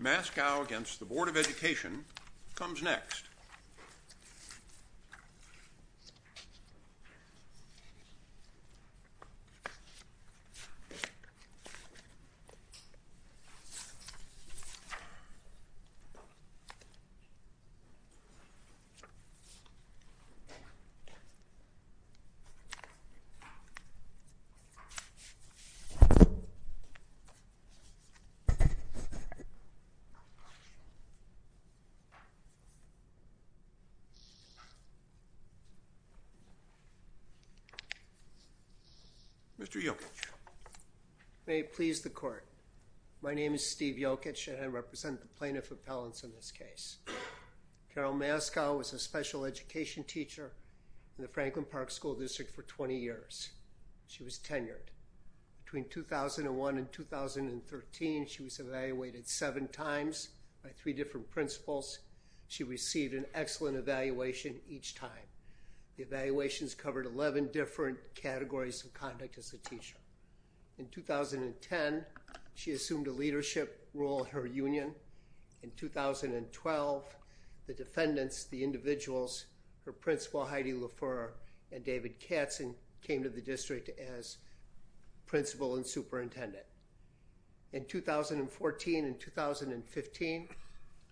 Mascow against the Board of Education comes next. Mr. Yochich. May it please the court. My name is Steve Yochich and I represent the plaintiff appellants in this case. Carol Mascow was a special education teacher in the Franklin Mascow case. In 2015, she was evaluated seven times by three different principles. She received an excellent evaluation each time. The evaluations covered 11 different categories of conduct as a teacher. In 2010, she assumed a leadership role in her union. In 2012, the defendants, the individuals, her principal Heidi LaFleur and David Katzen came to the district as principal and superintendent. In 2014 and 2015,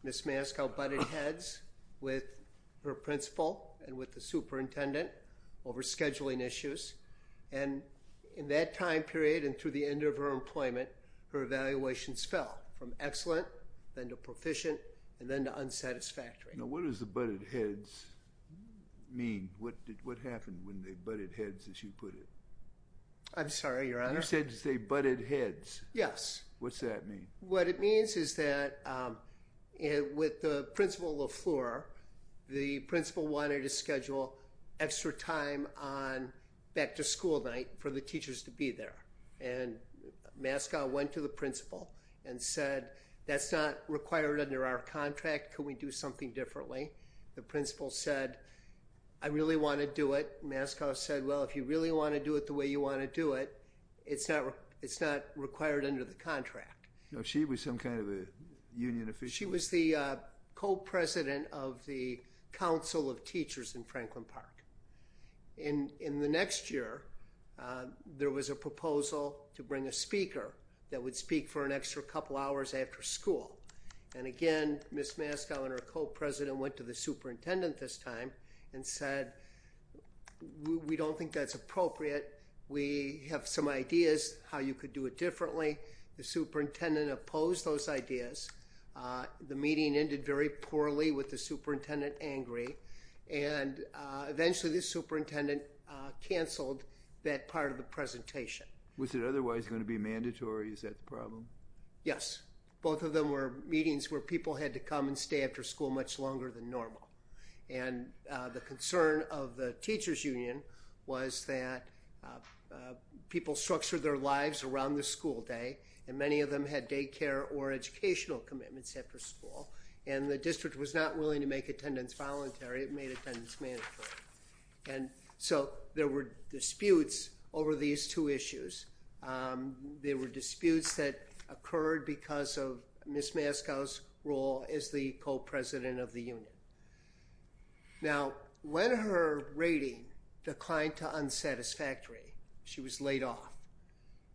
Ms. Mascow butted heads with her principal and with the superintendent over scheduling issues. And in that time period and through the end of her employment, her evaluations fell from excellent then to proficient and then to unsatisfactory. Now what does the butted heads mean? What did what happened when they butted heads as you put it? I'm sorry, your honor. You said to say butted heads. Yes. What's that mean? What it means is that with the principal LaFleur, the principal wanted to schedule extra time on back to school night for the teachers to be there. And Mascow went to the principal and said, that's not required under our contract. Can we do something differently? The principal said, I really want to do it. Mascow said, well, if you really want to do it the way you want to do it, it's not, it's not required under the contract. No, she was some kind of a union official. She was the co-president of the Council of Teachers in Franklin Park. In the next year, there was a proposal to bring a speaker that would speak for an extra couple hours after school. And again, Ms. Mascow and her co-president went to the superintendent this time and said, we don't think that's appropriate. We have some ideas how you could do it differently. The superintendent opposed those ideas. Uh, the meeting ended very poorly with the superintendent angry. And, uh, eventually the superintendent, uh, canceled that part of the presentation. Was it otherwise going to be mandatory? Is that the problem? Yes. Both of them were meetings where people had to come and stay after school much longer than normal. And, uh, the concern of the teachers union was that, uh, uh, people structured their lives around the school day. And many of them had daycare or educational commitments after school. And the district was not willing to make attendance voluntary. It made attendance mandatory. And so there were disputes over these two issues. Um, there were disputes that occurred because of Ms. Mascow's role as the co-president of the union. Now, when her rating declined to unsatisfactory, she was laid off.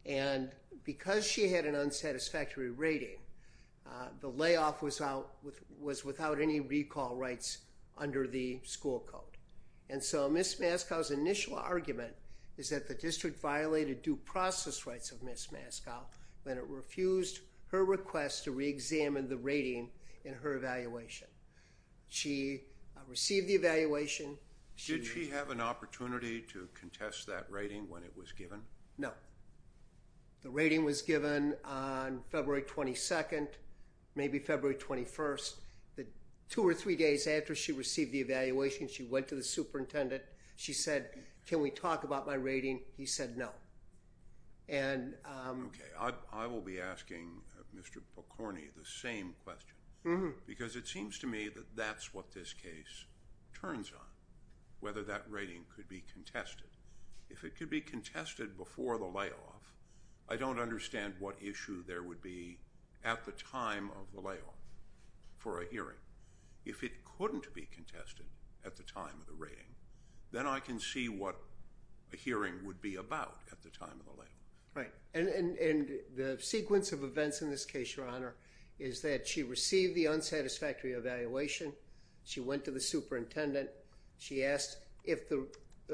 And because she had an unsatisfactory rating, uh, the layoff was out with, was without any recall rights under the school code. And so Ms. Mascow's initial argument is that the district violated due process rights of Ms. Mascow when it refused her request to re-examine the rating in her evaluation. She received the evaluation. Did she have an opportunity to contest that rating when it was given? No. The rating was given on February 22nd, maybe February 21st. The two or three days after she received the evaluation, she went to the superintendent. She said, can we talk about my rating? He said, no. And, um, okay. I, I will be asking Mr. Pokorny the same question because it seems to me that that's what this case turns on whether that rating could be contested. If it could be contested before the layoff, I don't understand what issue there would be at the time of the layoff for a hearing. If it couldn't be contested at the time of the rating, then I can see what a hearing would be about at the time of the layoff. Right. And, and, and the sequence of events in this case, your honor, is that she received the unsatisfactory evaluation. She went to the superintendent. She asked if the,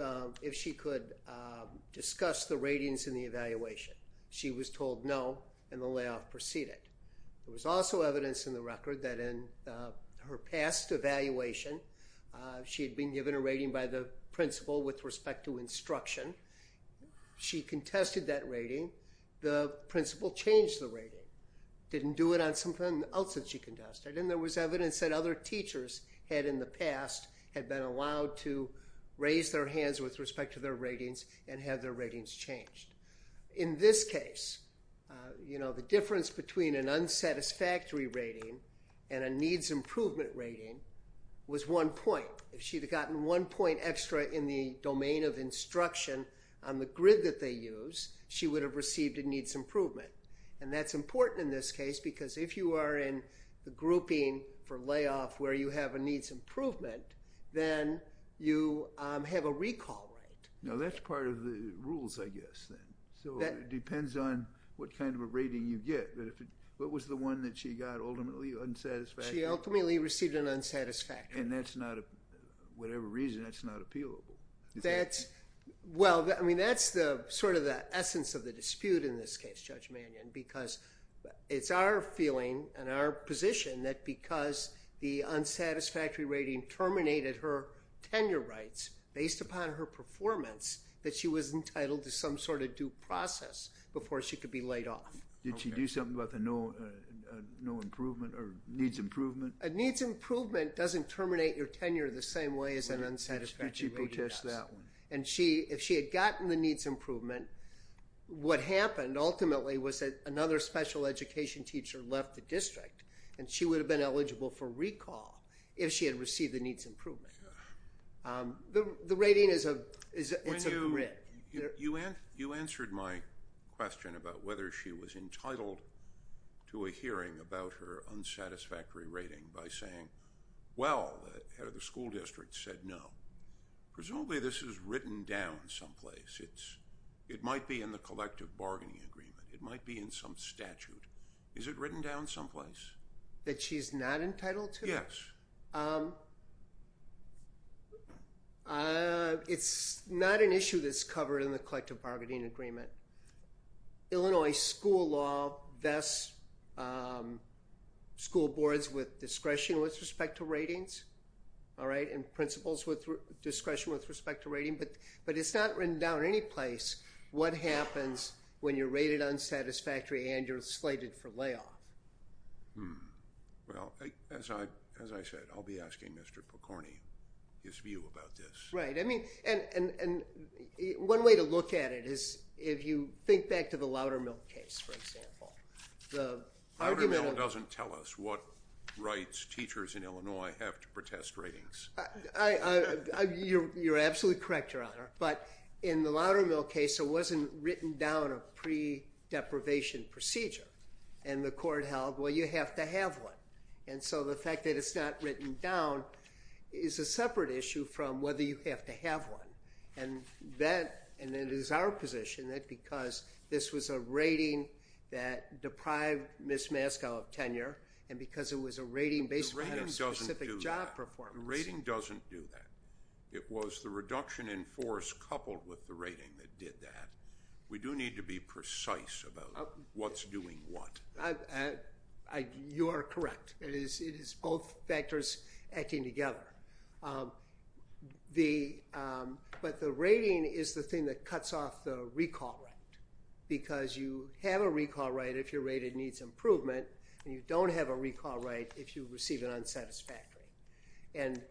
um, if she could, um, discuss the ratings in the evaluation. She was told no and the layoff proceeded. There was also evidence in the record that in, uh, her past evaluation, uh, she had been given a rating by the principal with respect to instruction. She contested that rating. The principal changed the rating, didn't do it on something else that she contested. And there was evidence that other teachers had in the past had been allowed to raise their hands with respect to their ratings and have their ratings changed. In this case, you know, the difference between an unsatisfactory rating and a needs improvement rating was one point. If she'd have gotten one point extra in the domain of instruction on the grid that they use, she would have received a needs improvement. And that's important in this case because if you are in the grouping for layoff where you have a needs improvement, then you, um, have a recall rate. Now that's part of the rules, I guess, then. So it depends on what kind of a rating you get. But if it, what was the one that she got ultimately unsatisfactory? She ultimately received an unsatisfactory. And that's not a, whatever reason, that's not appealable. That's, well, I mean, that's the sort of the essence of the dispute in this case, Judge Mannion, because it's our feeling and our position that because the unsatisfactory rating terminated her tenure rights based upon her performance, that she was entitled to some sort of due process before she could be laid off. Did she do something about the no improvement or needs improvement? A needs improvement doesn't terminate your tenure the same way as an unsatisfactory rate does. And if she had gotten the needs improvement, what happened ultimately was that another special education teacher left the district and she would have been eligible for recall if she had received the needs improvement. The rating is a, it's a grid. When you, you answered my question about whether she was entitled to a hearing about her unsatisfactory rating by saying, well, the head of the school district said no. Presumably this is written down someplace. It's, it might be in the collective bargaining agreement. It might be in some statute. Is it written down someplace? That she's not entitled to? Yes. It's not an issue that's covered in the collective bargaining agreement. Illinois school law vests, um, school boards with discretion with respect to ratings. All right. And principals with discretion with respect to rating, but, but it's not written down any place. What happens when you're rated unsatisfactory and you're slated for layoff? Hmm. Well, as I, as I said, I'll be asking Mr. McCorney his view about this. Right. I mean, and, and, and one way to look at it is if you think back to the Loudermill case, for example, the argument doesn't tell us what rights teachers in Illinois have to protest ratings. I, I, I, you're, you're absolutely correct, your honor. But in the Loudermill case, it wasn't written down a pre deprivation procedure and the court held, well, you have to have one. And so the fact that it's not written down is a separate issue from whether you have to have one and that, and then it is our position that because this was a rating that deprived Ms. Maskell of tenure and because it was a rating based on specific job performance. Rating doesn't do that. It was the reduction in force coupled with the rating that did that. We do need to be precise about what's doing what. I, you are correct. It is, it is both factors acting together. The, but the rating is the thing that cuts off the recall right because you have a recall right if you're rated needs improvement and you don't have a recall right if you receive an unsatisfactory. And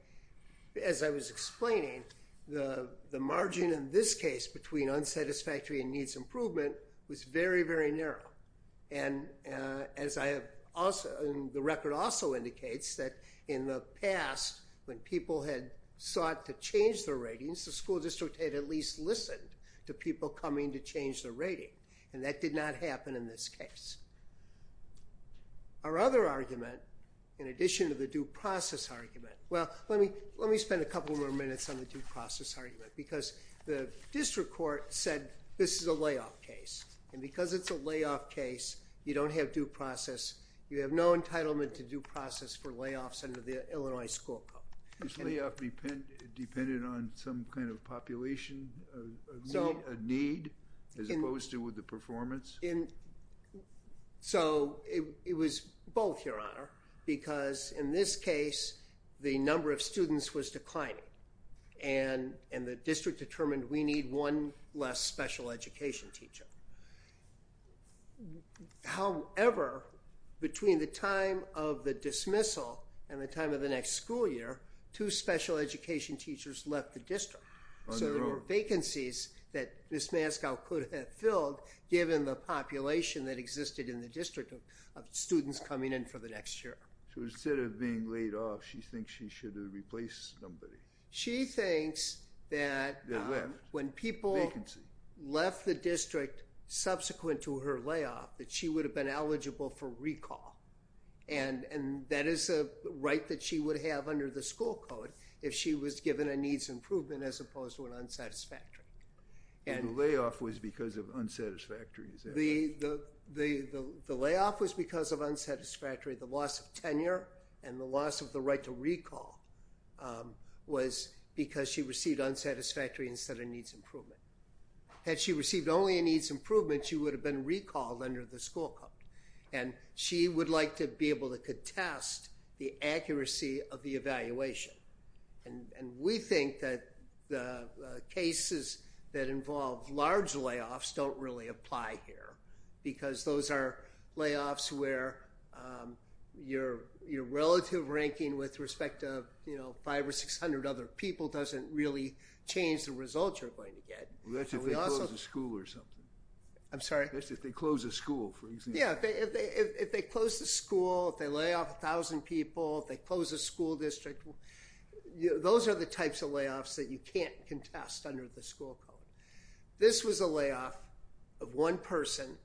as I was explaining, the, the margin in this case between unsatisfactory and needs improvement was very, very narrow. And as I have also, the record also indicates that in the past when people had sought to change their ratings, the school district had at least listened to people coming to change the rating and that did not happen in this case. Our other argument in addition to the due process argument, well, let me, let me spend a couple more minutes on the due process argument because the district court said this is a layoff case and because it's a layoff case, you don't have due process, you have no entitlement to due process for layoffs under the Illinois school code. Is layoff dependent on some kind of population of need as opposed to with the performance? In, so it was both your honor because in this case, the number of students was declining and, and the district determined we need one less special education teacher. However, between the time of the dismissal and the time of the next school year, two special education teachers left the district. So there were vacancies that Ms. Mascow could have filled given the population that existed in the district of students coming in for the next year. So instead of being laid off, she thinks she should have replaced somebody. She thinks that when people left the district subsequent to her layoff that she would have been eligible for recall and, and that is a right that she would have under the school code if she was given a needs improvement as opposed to an unsatisfactory. And layoff was because of unsatisfactory. The, the, the, the layoff was because of unsatisfactory, the loss of tenure and the loss of the right to recall was because she received unsatisfactory instead of needs improvement. Had she received only a needs improvement, she would have been recalled under the school code and she would like to be able to contest the accuracy of the evaluation. And, and we think that the cases that involve large layoffs don't really apply here because those are layoffs where your, your relative ranking with respect to, you know, five or 600 other people doesn't really change the results you're going to get. That's if they close the school or something. I'm sorry. That's if they close the school for example. Yeah, if they, if they, if they close the school, if they lay off a thousand people, if they close the school district, those are the types of layoffs that you can't contest under the school code. This was a layoff of one person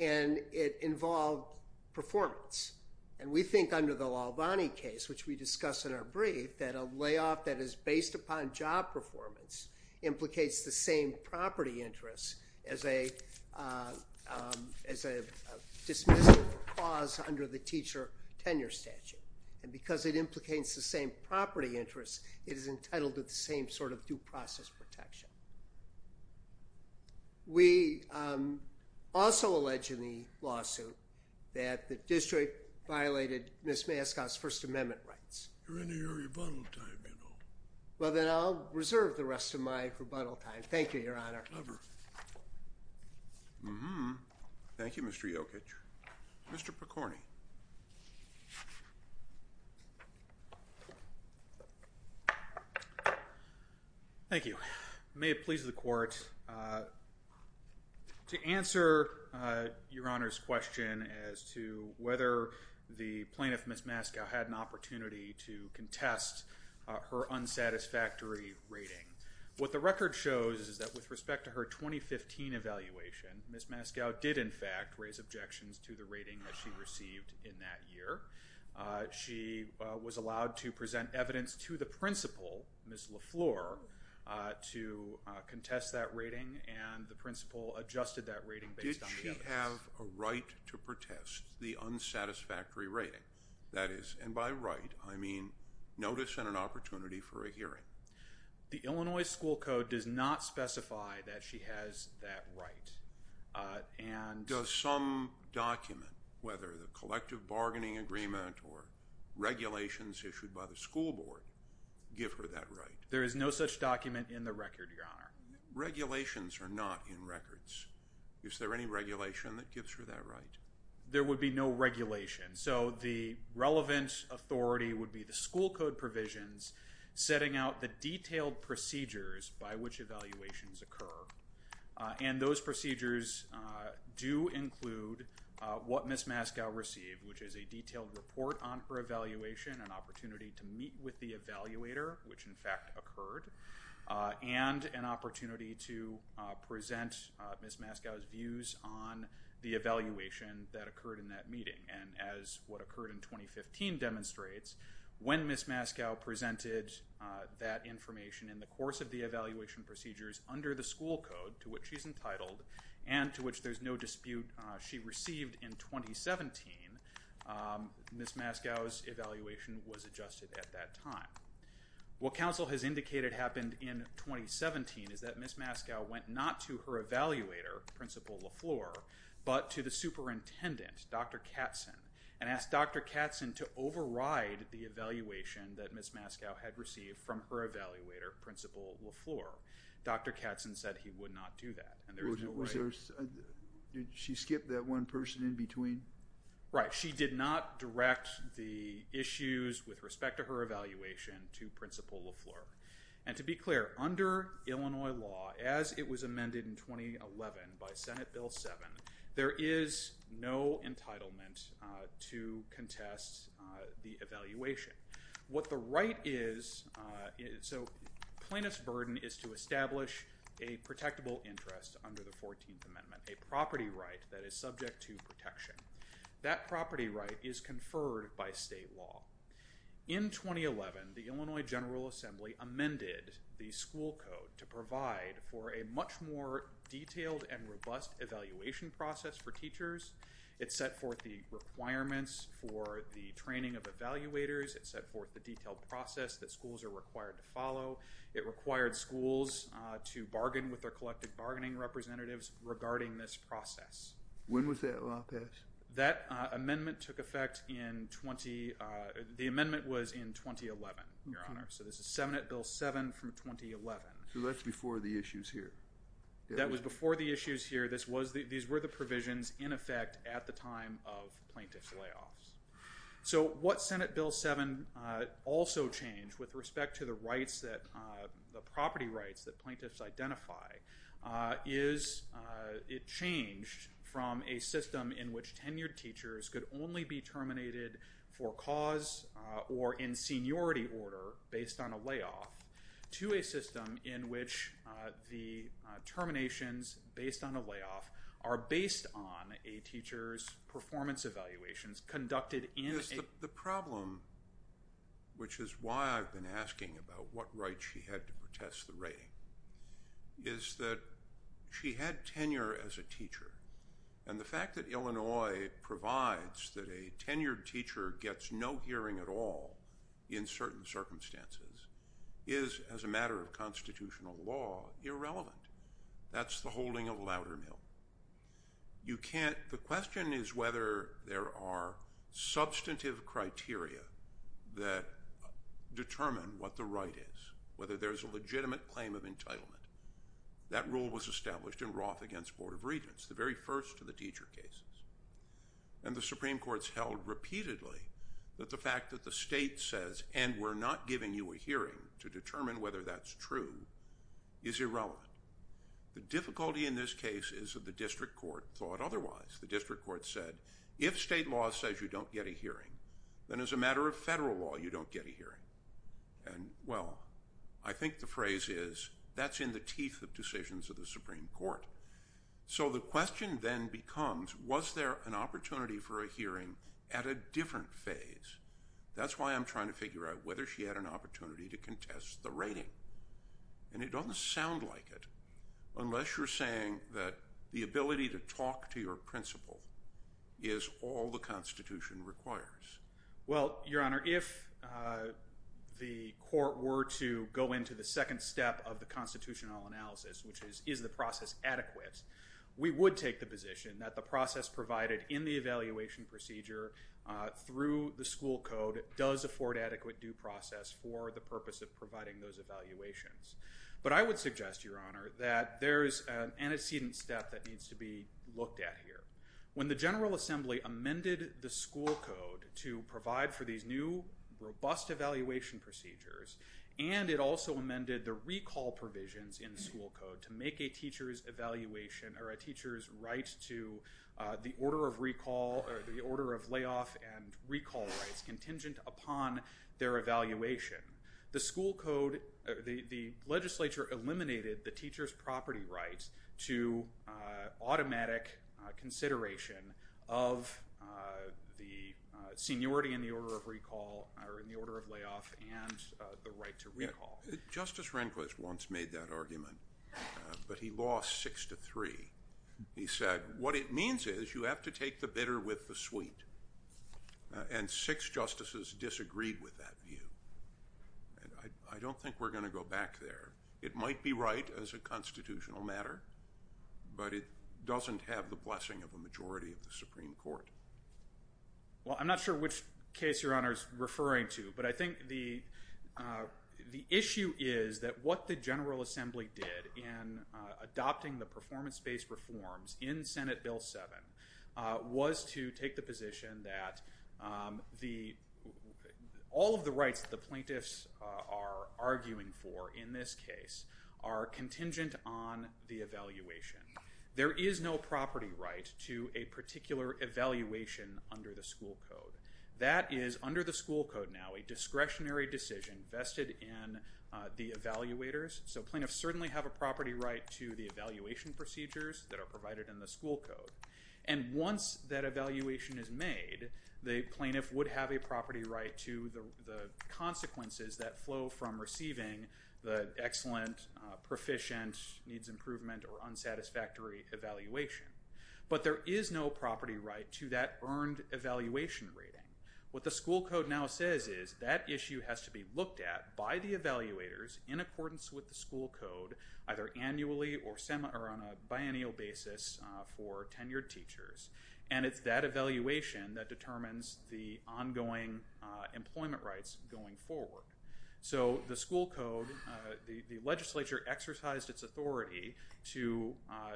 and it involved performance. And we think under the Lalvani case, which we discussed in our brief, that a layoff that is based upon job performance implicates the same property interest as a, as a dismissive clause under the teacher tenure statute. And because it implicates the same property interest, it is entitled to the same sort of due process protection. We also allege in the lawsuit that the district violated Ms. Mascot's first amendment rights. You're in your rebuttal time, you know. Well, then I'll reserve the rest of my rebuttal time. Thank you, Your Honor. Thank you, Mr. Yokich. Mr. Picorni. Thank you. May it please the court, uh, to answer, uh, Your Honor's question as to whether the plaintiff, Ms. Mascot, had an opportunity to contest, uh, her unsatisfactory rating. What the record shows is that with respect to her 2015 evaluation, Ms. Mascot did, in fact, raise objections to the rating that she received in that year. Uh, she, uh, was allowed to present evidence to the principal, Ms. Lafleur, uh, to, uh, contest that rating and the principal adjusted that rating based on the evidence. Did she have a right to protest the unsatisfactory rating? That is, and by right, I mean notice and an opportunity for a hearing. The Illinois School Code does not specify that she has that right, uh, and... Does some document, whether the collective bargaining agreement or regulations issued by the school board, give her that right? There is no such document in the record, Your Honor. Regulations are not in records. Is there any regulation that gives her that right? There would be no regulation. So, the relevant authority would be the school code provisions setting out the detailed procedures by which evaluations occur, uh, and those procedures, uh, do include, uh, what Ms. Mascot received, which is a detailed report on her evaluation, an opportunity to meet with the evaluator, which, in fact, occurred, uh, and an opportunity to, uh, present, uh, Ms. Mascot's evaluation as what occurred in 2015 demonstrates. When Ms. Mascot presented, uh, that information in the course of the evaluation procedures under the school code, to which she's entitled, and to which there's no dispute, uh, she received in 2017, um, Ms. Mascot's evaluation was adjusted at that time. What counsel has indicated happened in 2017 is that Ms. Mascot went not to her and asked Dr. Katzen to override the evaluation that Ms. Mascot had received from her evaluator, Principal LaFleur. Dr. Katzen said he would not do that. And there was no right. Was there, did she skip that one person in between? Right. She did not direct the issues with respect to her evaluation to Principal LaFleur. And to be clear, under Illinois law, as it was to contest, uh, the evaluation. What the right is, uh, so plaintiff's burden is to establish a protectable interest under the 14th Amendment, a property right that is subject to protection. That property right is conferred by state law. In 2011, the Illinois General Assembly amended the school code to provide for a much more detailed and robust evaluation process for teachers. It set forth the requirements for the training of evaluators. It set forth the detailed process that schools are required to follow. It required schools, uh, to bargain with their collective bargaining representatives regarding this process. When was that law passed? That, uh, amendment took effect in 20, uh, the amendment was in 2011, Your Honor. So this is Senate Bill 7 from 2011. So that's before the issues here. That was before the provisions in effect at the time of plaintiff's layoffs. So what Senate Bill 7, uh, also changed with respect to the rights that, uh, the property rights that plaintiffs identify, uh, is, uh, it changed from a system in which tenured teachers could only be terminated for cause, uh, or in seniority order based on a layoff, to a system in which, uh, the, uh, terminations based on a layoff are based on a teacher's performance evaluations conducted in a- The problem, which is why I've been asking about what right she had to protest the rating, is that she had tenure as a teacher. And the fact that Illinois provides that a tenured teacher gets no hearing at all in certain circumstances is, as a matter of constitutional law, irrelevant. That's the holding of Loudermill. You can't, the question is whether there are substantive criteria that determine what the right is, whether there's a legitimate claim of entitlement. That rule was established in Roth against Board of Regents, the very first of the teacher cases. And the Supreme Court's held repeatedly that the fact that the state says, and we're not giving you a hearing to determine whether that's true, is irrelevant. The difficulty in this case is that the district court thought otherwise. The district court said, if state law says you don't get a hearing, then as a matter of federal law, you don't get a hearing. And, well, I think the phrase is, that's in the teeth of decisions of the Supreme Court. So the question then becomes, was there an opportunity for a hearing at a different phase? That's why I'm trying to figure out whether she had an opportunity to contest the rating. And it doesn't sound like it, unless you're saying that the ability to talk to your principal is all the Constitution requires. Well, Your Honor, if the court were to go into the second step of the constitutional analysis, which is, is the process adequate, we would take the position that the process provided in the evaluation procedure through the school code does afford adequate due process for the purpose of providing those evaluations. But I would suggest, Your Honor, that there is an antecedent step that needs to be looked at here. When the General Assembly amended the school code to provide for these new, robust evaluation procedures, and it also amended the recall provisions in the school code to make a teacher's evaluation, or a the order of recall, or the order of layoff and recall rights contingent upon their evaluation. The school code, the legislature eliminated the teacher's property rights to automatic consideration of the seniority in the order of recall, or in the order of layoff, and the right to recall. Justice Rehnquist once made that argument, but he lost six to three. He said, what it means is you have to take the bitter with the sweet. And six justices disagreed with that view. I don't think we're going to go back there. It might be right as a constitutional matter, but it doesn't have the blessing of a majority of the Supreme Court. Well, I'm not sure which case Your Honor is referring to, but I think the issue is that what the General Assembly did in adopting the performance-based reforms in Senate Bill 7 was to take the position that all of the rights that the plaintiffs are arguing for in this case are contingent on the evaluation. There is no property right to a particular evaluation under the school code. That is, under the school code now, a discretionary decision vested in the evaluators. So plaintiffs certainly have a property right to the evaluation procedures that are provided in the school code. And once that evaluation is made, the plaintiff would have a property right to the consequences that flow from receiving the excellent, proficient, needs improvement, or unsatisfactory evaluation. But there is no property right to that earned evaluation rating. What the school code now says is that issue has to be looked at by the evaluators in accordance with the school code, either annually or on a biennial basis for tenured teachers. And it's that evaluation that determines the ongoing employment rights going forward. So the school code, the legislature exercised its authority to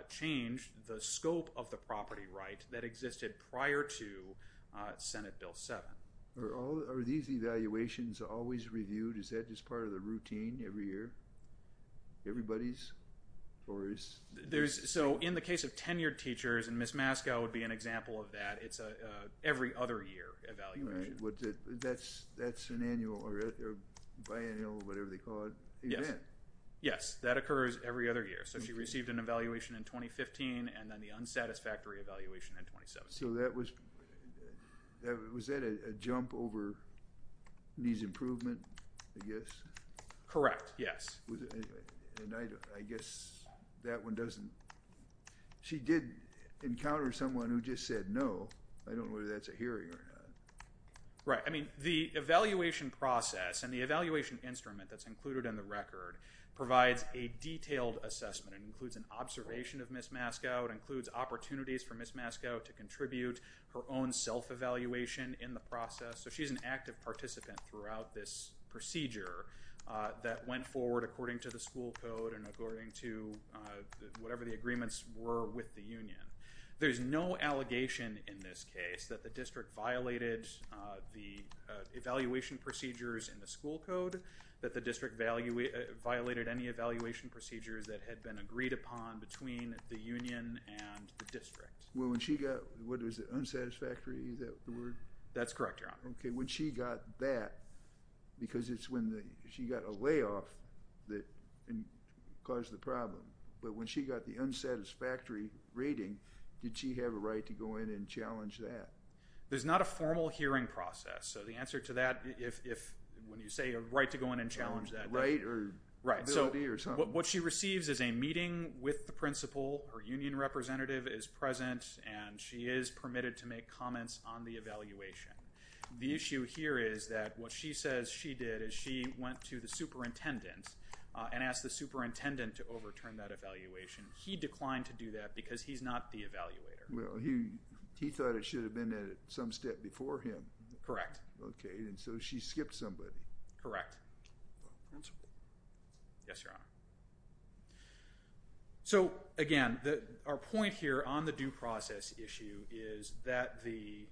change the scope of the property right that existed prior to Senate Bill 7. Are these evaluations always reviewed? Is that just part of the routine every year? Everybody's? Or is... So in the case of tenured teachers, and Ms. Maskell would be an example of that, it's an every other year evaluation. That's an annual or biannual, whatever they call it, event? Yes, that occurs every other year. So she received an evaluation in 2015 and then the unsatisfactory evaluation in 2017. So that was... Was that a jump over needs improvement, I guess? Correct, yes. And I guess that one doesn't... She did encounter someone who just said no. I don't know whether that's a hearing or not. Right. I mean, the evaluation process and the evaluation instrument that's included in the record provides a detailed assessment. It includes an observation of Ms. Maskell. It includes opportunities for Ms. Maskell to contribute her own self-evaluation in the process. So she's an active participant throughout this procedure that went forward according to the school code and according to whatever the agreements were with the union. There's no allegation in this case that the district violated the evaluation procedures in the school code, that the district violated any evaluation procedures that had been agreed upon between the union and the district. Well, when she got... Was it unsatisfactory? Is that the word? That's correct, Your Honor. Okay. When she got that, because it's when she got a layoff that caused the problem. But when she got the unsatisfactory rating, did she have a right to go in and challenge that? There's not a formal hearing process. So the answer to that, if when you say a right to go in and challenge that... A right or ability or something? Right. So what she receives is a meeting with the principal, her union representative is present, and she is permitted to make comments on the evaluation. The issue here is that what she says she did is she went to the superintendent and asked the superintendent to overturn that evaluation. He declined to do that because he's not the evaluator. Well, he thought it should have been at some step before him. Correct. Okay. And so she skipped somebody. Correct. Yes, Your Honor. So, again, our point here on the due process issue is that the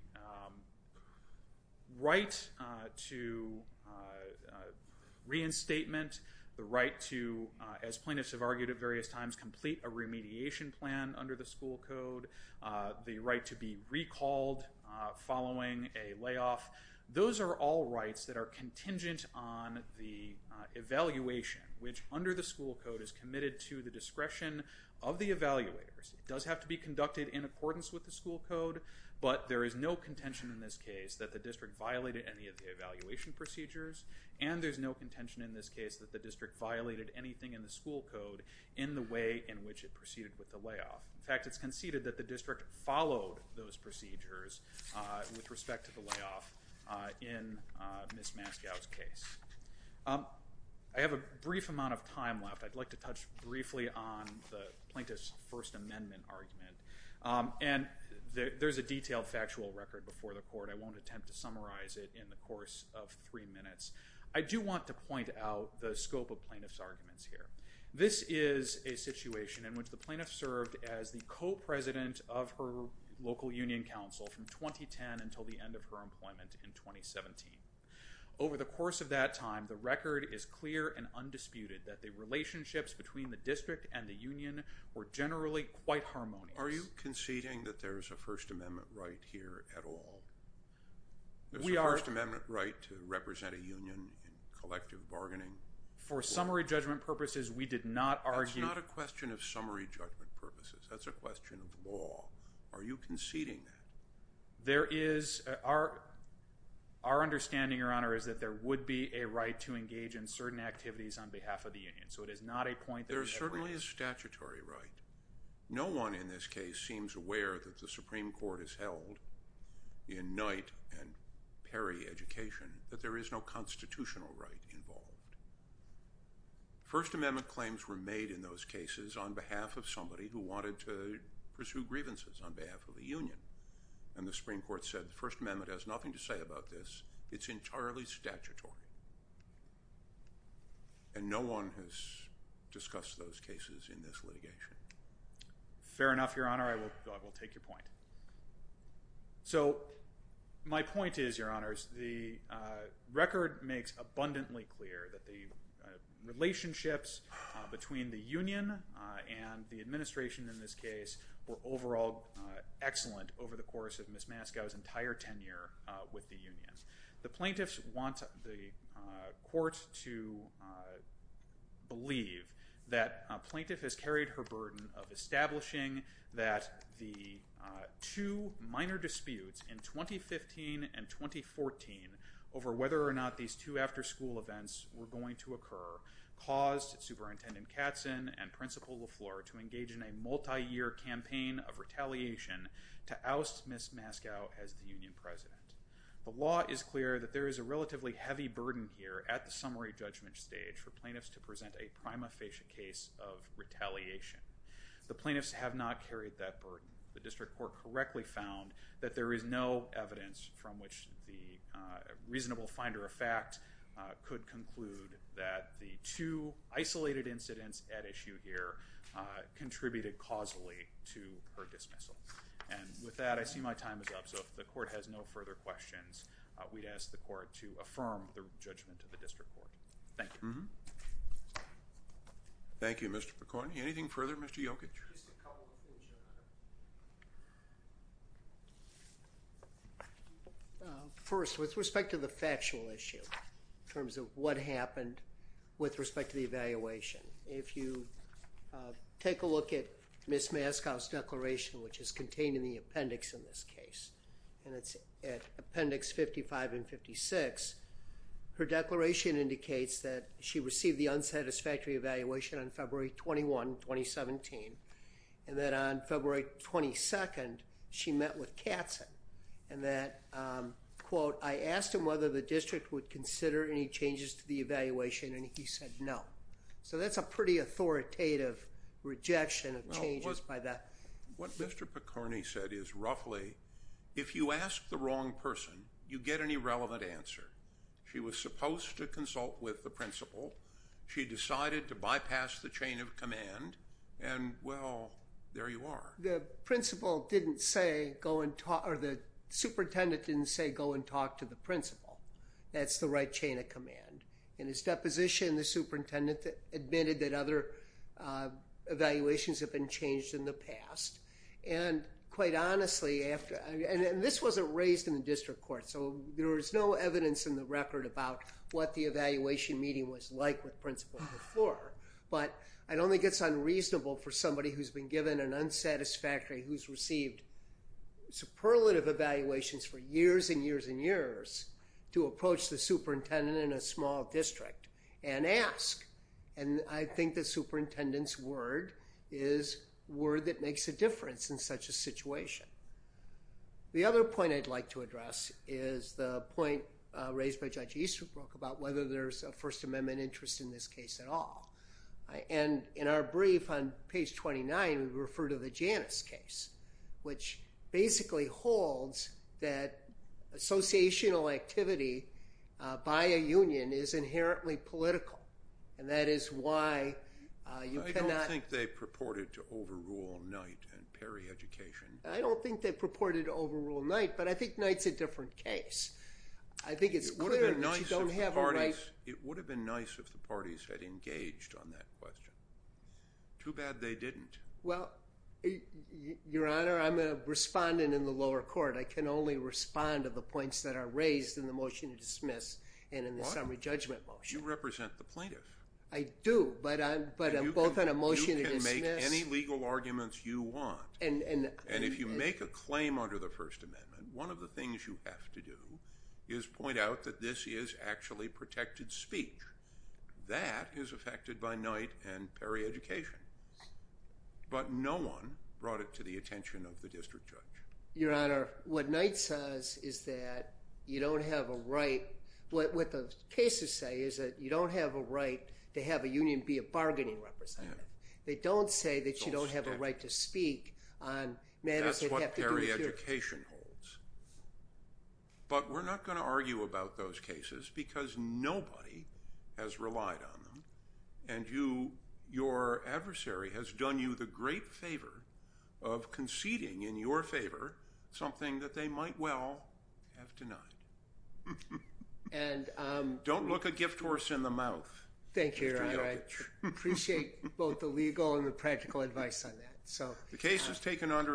right to reinstatement, the right to, as plaintiffs have argued at various times, complete a remediation plan under the school code, the right to be recalled following a layoff, those are all rights that on the evaluation, which under the school code is committed to the discretion of the evaluators. It does have to be conducted in accordance with the school code, but there is no contention in this case that the district violated any of the evaluation procedures, and there's no contention in this case that the district violated anything in the school code in the way in which it proceeded with the layoff. In fact, it's conceded that the I have a brief amount of time left. I'd like to touch briefly on the plaintiff's First Amendment argument, and there's a detailed factual record before the court. I won't attempt to summarize it in the course of three minutes. I do want to point out the scope of plaintiff's arguments here. This is a situation in which the plaintiff served as the co-president of her local union council from 2010 until the end of her employment in 2017. Over the time, the record is clear and undisputed that the relationships between the district and the union were generally quite harmonious. Are you conceding that there is a First Amendment right here at all? We are. There's a First Amendment right to represent a union in collective bargaining? For summary judgment purposes, we did not argue. That's not a question of summary judgment purposes. That's a question of law. Are you conceding that? There is. Our understanding, Your Honor, is that there would be a right to engage in certain activities on behalf of the union, so it is not a point that we agree on. There is certainly a statutory right. No one in this case seems aware that the Supreme Court has held in Knight and Perry education that there is no constitutional right involved. First Amendment claims were made in those cases on behalf of somebody who wanted to pursue grievances on behalf of the union, and the Supreme Court said the First Amendment has nothing to say about this. It's entirely statutory, and no one has discussed those cases in this litigation. Fair enough, Your Honor. I will take your point. So my point is, Your Honors, the record makes abundantly clear that the relationships between the union and the administration in this case were overall excellent over the course of Ms. Mascow's entire tenure with the union. The plaintiffs want the court to believe that a plaintiff has carried her burden of establishing that the two minor disputes in 2015 and 2014 over whether or not these two after-school events were going to occur caused Superintendent Katzen and Principal LaFleur to engage in a multi-year campaign of retaliation to oust Ms. Mascow as the union president. The law is clear that there is a relatively heavy burden here at the summary judgment stage for plaintiffs to present a prima facie case of retaliation. The plaintiffs have not carried that burden. The district court correctly found that there is no evidence from which the reasonable finder of fact could conclude that the two isolated incidents at that time contributed causally to her dismissal. And with that, I see my time is up. So if the court has no further questions, we'd ask the court to affirm the judgment of the district court. Thank you. Thank you, Mr. McCorny. Anything further, Mr. Jokic? Just a couple of things, Your Honor. First, with respect to the factual issue in terms of what happened with respect to the evaluation, if you take a look at Ms. Mascow's declaration, which is contained in the appendix in this case, and it's at appendix 55 and 56, her declaration indicates that she received the unsatisfactory evaluation on February 21, 2017, and that on February 22, she met with Katzen and that, quote, I asked him whether the district would So that's a pretty authoritative rejection of changes by that. What Mr. McCorny said is roughly, if you ask the wrong person, you get an irrelevant answer. She was supposed to consult with the principal. She decided to bypass the chain of command, and well, there you are. The principal didn't say go and talk, or the superintendent didn't say go and talk to the principal. That's the right chain of command. In his deposition, the superintendent admitted that other evaluations have been changed in the past, and quite honestly, and this wasn't raised in the district court, so there was no evidence in the record about what the evaluation meeting was like with principal before, but it only gets unreasonable for somebody who's been given an unsatisfactory, who's received superlative evaluations for years and years and years to approach the superintendent in a small district and ask, and I think the superintendent's word is word that makes a difference in such a situation. The other point I'd like to address is the point raised by Judge Easterbrook about whether there's a First Amendment interest in this case at all, and in our brief on page 29, we refer to the Janus case, which basically holds that associational activity by a union is inherently political, and that is why you cannot- I don't think they purported to overrule Knight and Perry education. I don't think they purported to overrule Knight, but I think Knight's a different case. I think it's clear that you don't have a right- It would have been nice if the parties had engaged on that question. Too bad they didn't. Well, Your Honor, I'm a respondent in the lower court. I can only respond to the points that are raised in the motion to dismiss and in the summary judgment motion. You represent the plaintiff. I do, but I'm both on a motion to dismiss- You can make any legal arguments you want, and if you make a claim under the First Amendment, one of the things you have to do is point out that this is actually protected speech. That is affected by Knight and Perry education, but no one brought it to the attention of the district judge. Your Honor, what Knight says is that you don't have a right- What the cases say is that you don't have a right to have a union be a bargaining representative. They don't say that you don't have a right to speak on matters that have to do with your- has relied on them, and your adversary has done you the great favor of conceding in your favor something that they might well have denied. Don't look a gift horse in the mouth. Thank you, Your Honor. I appreciate both the legal and the practical advice on that. The case is taken under advisement.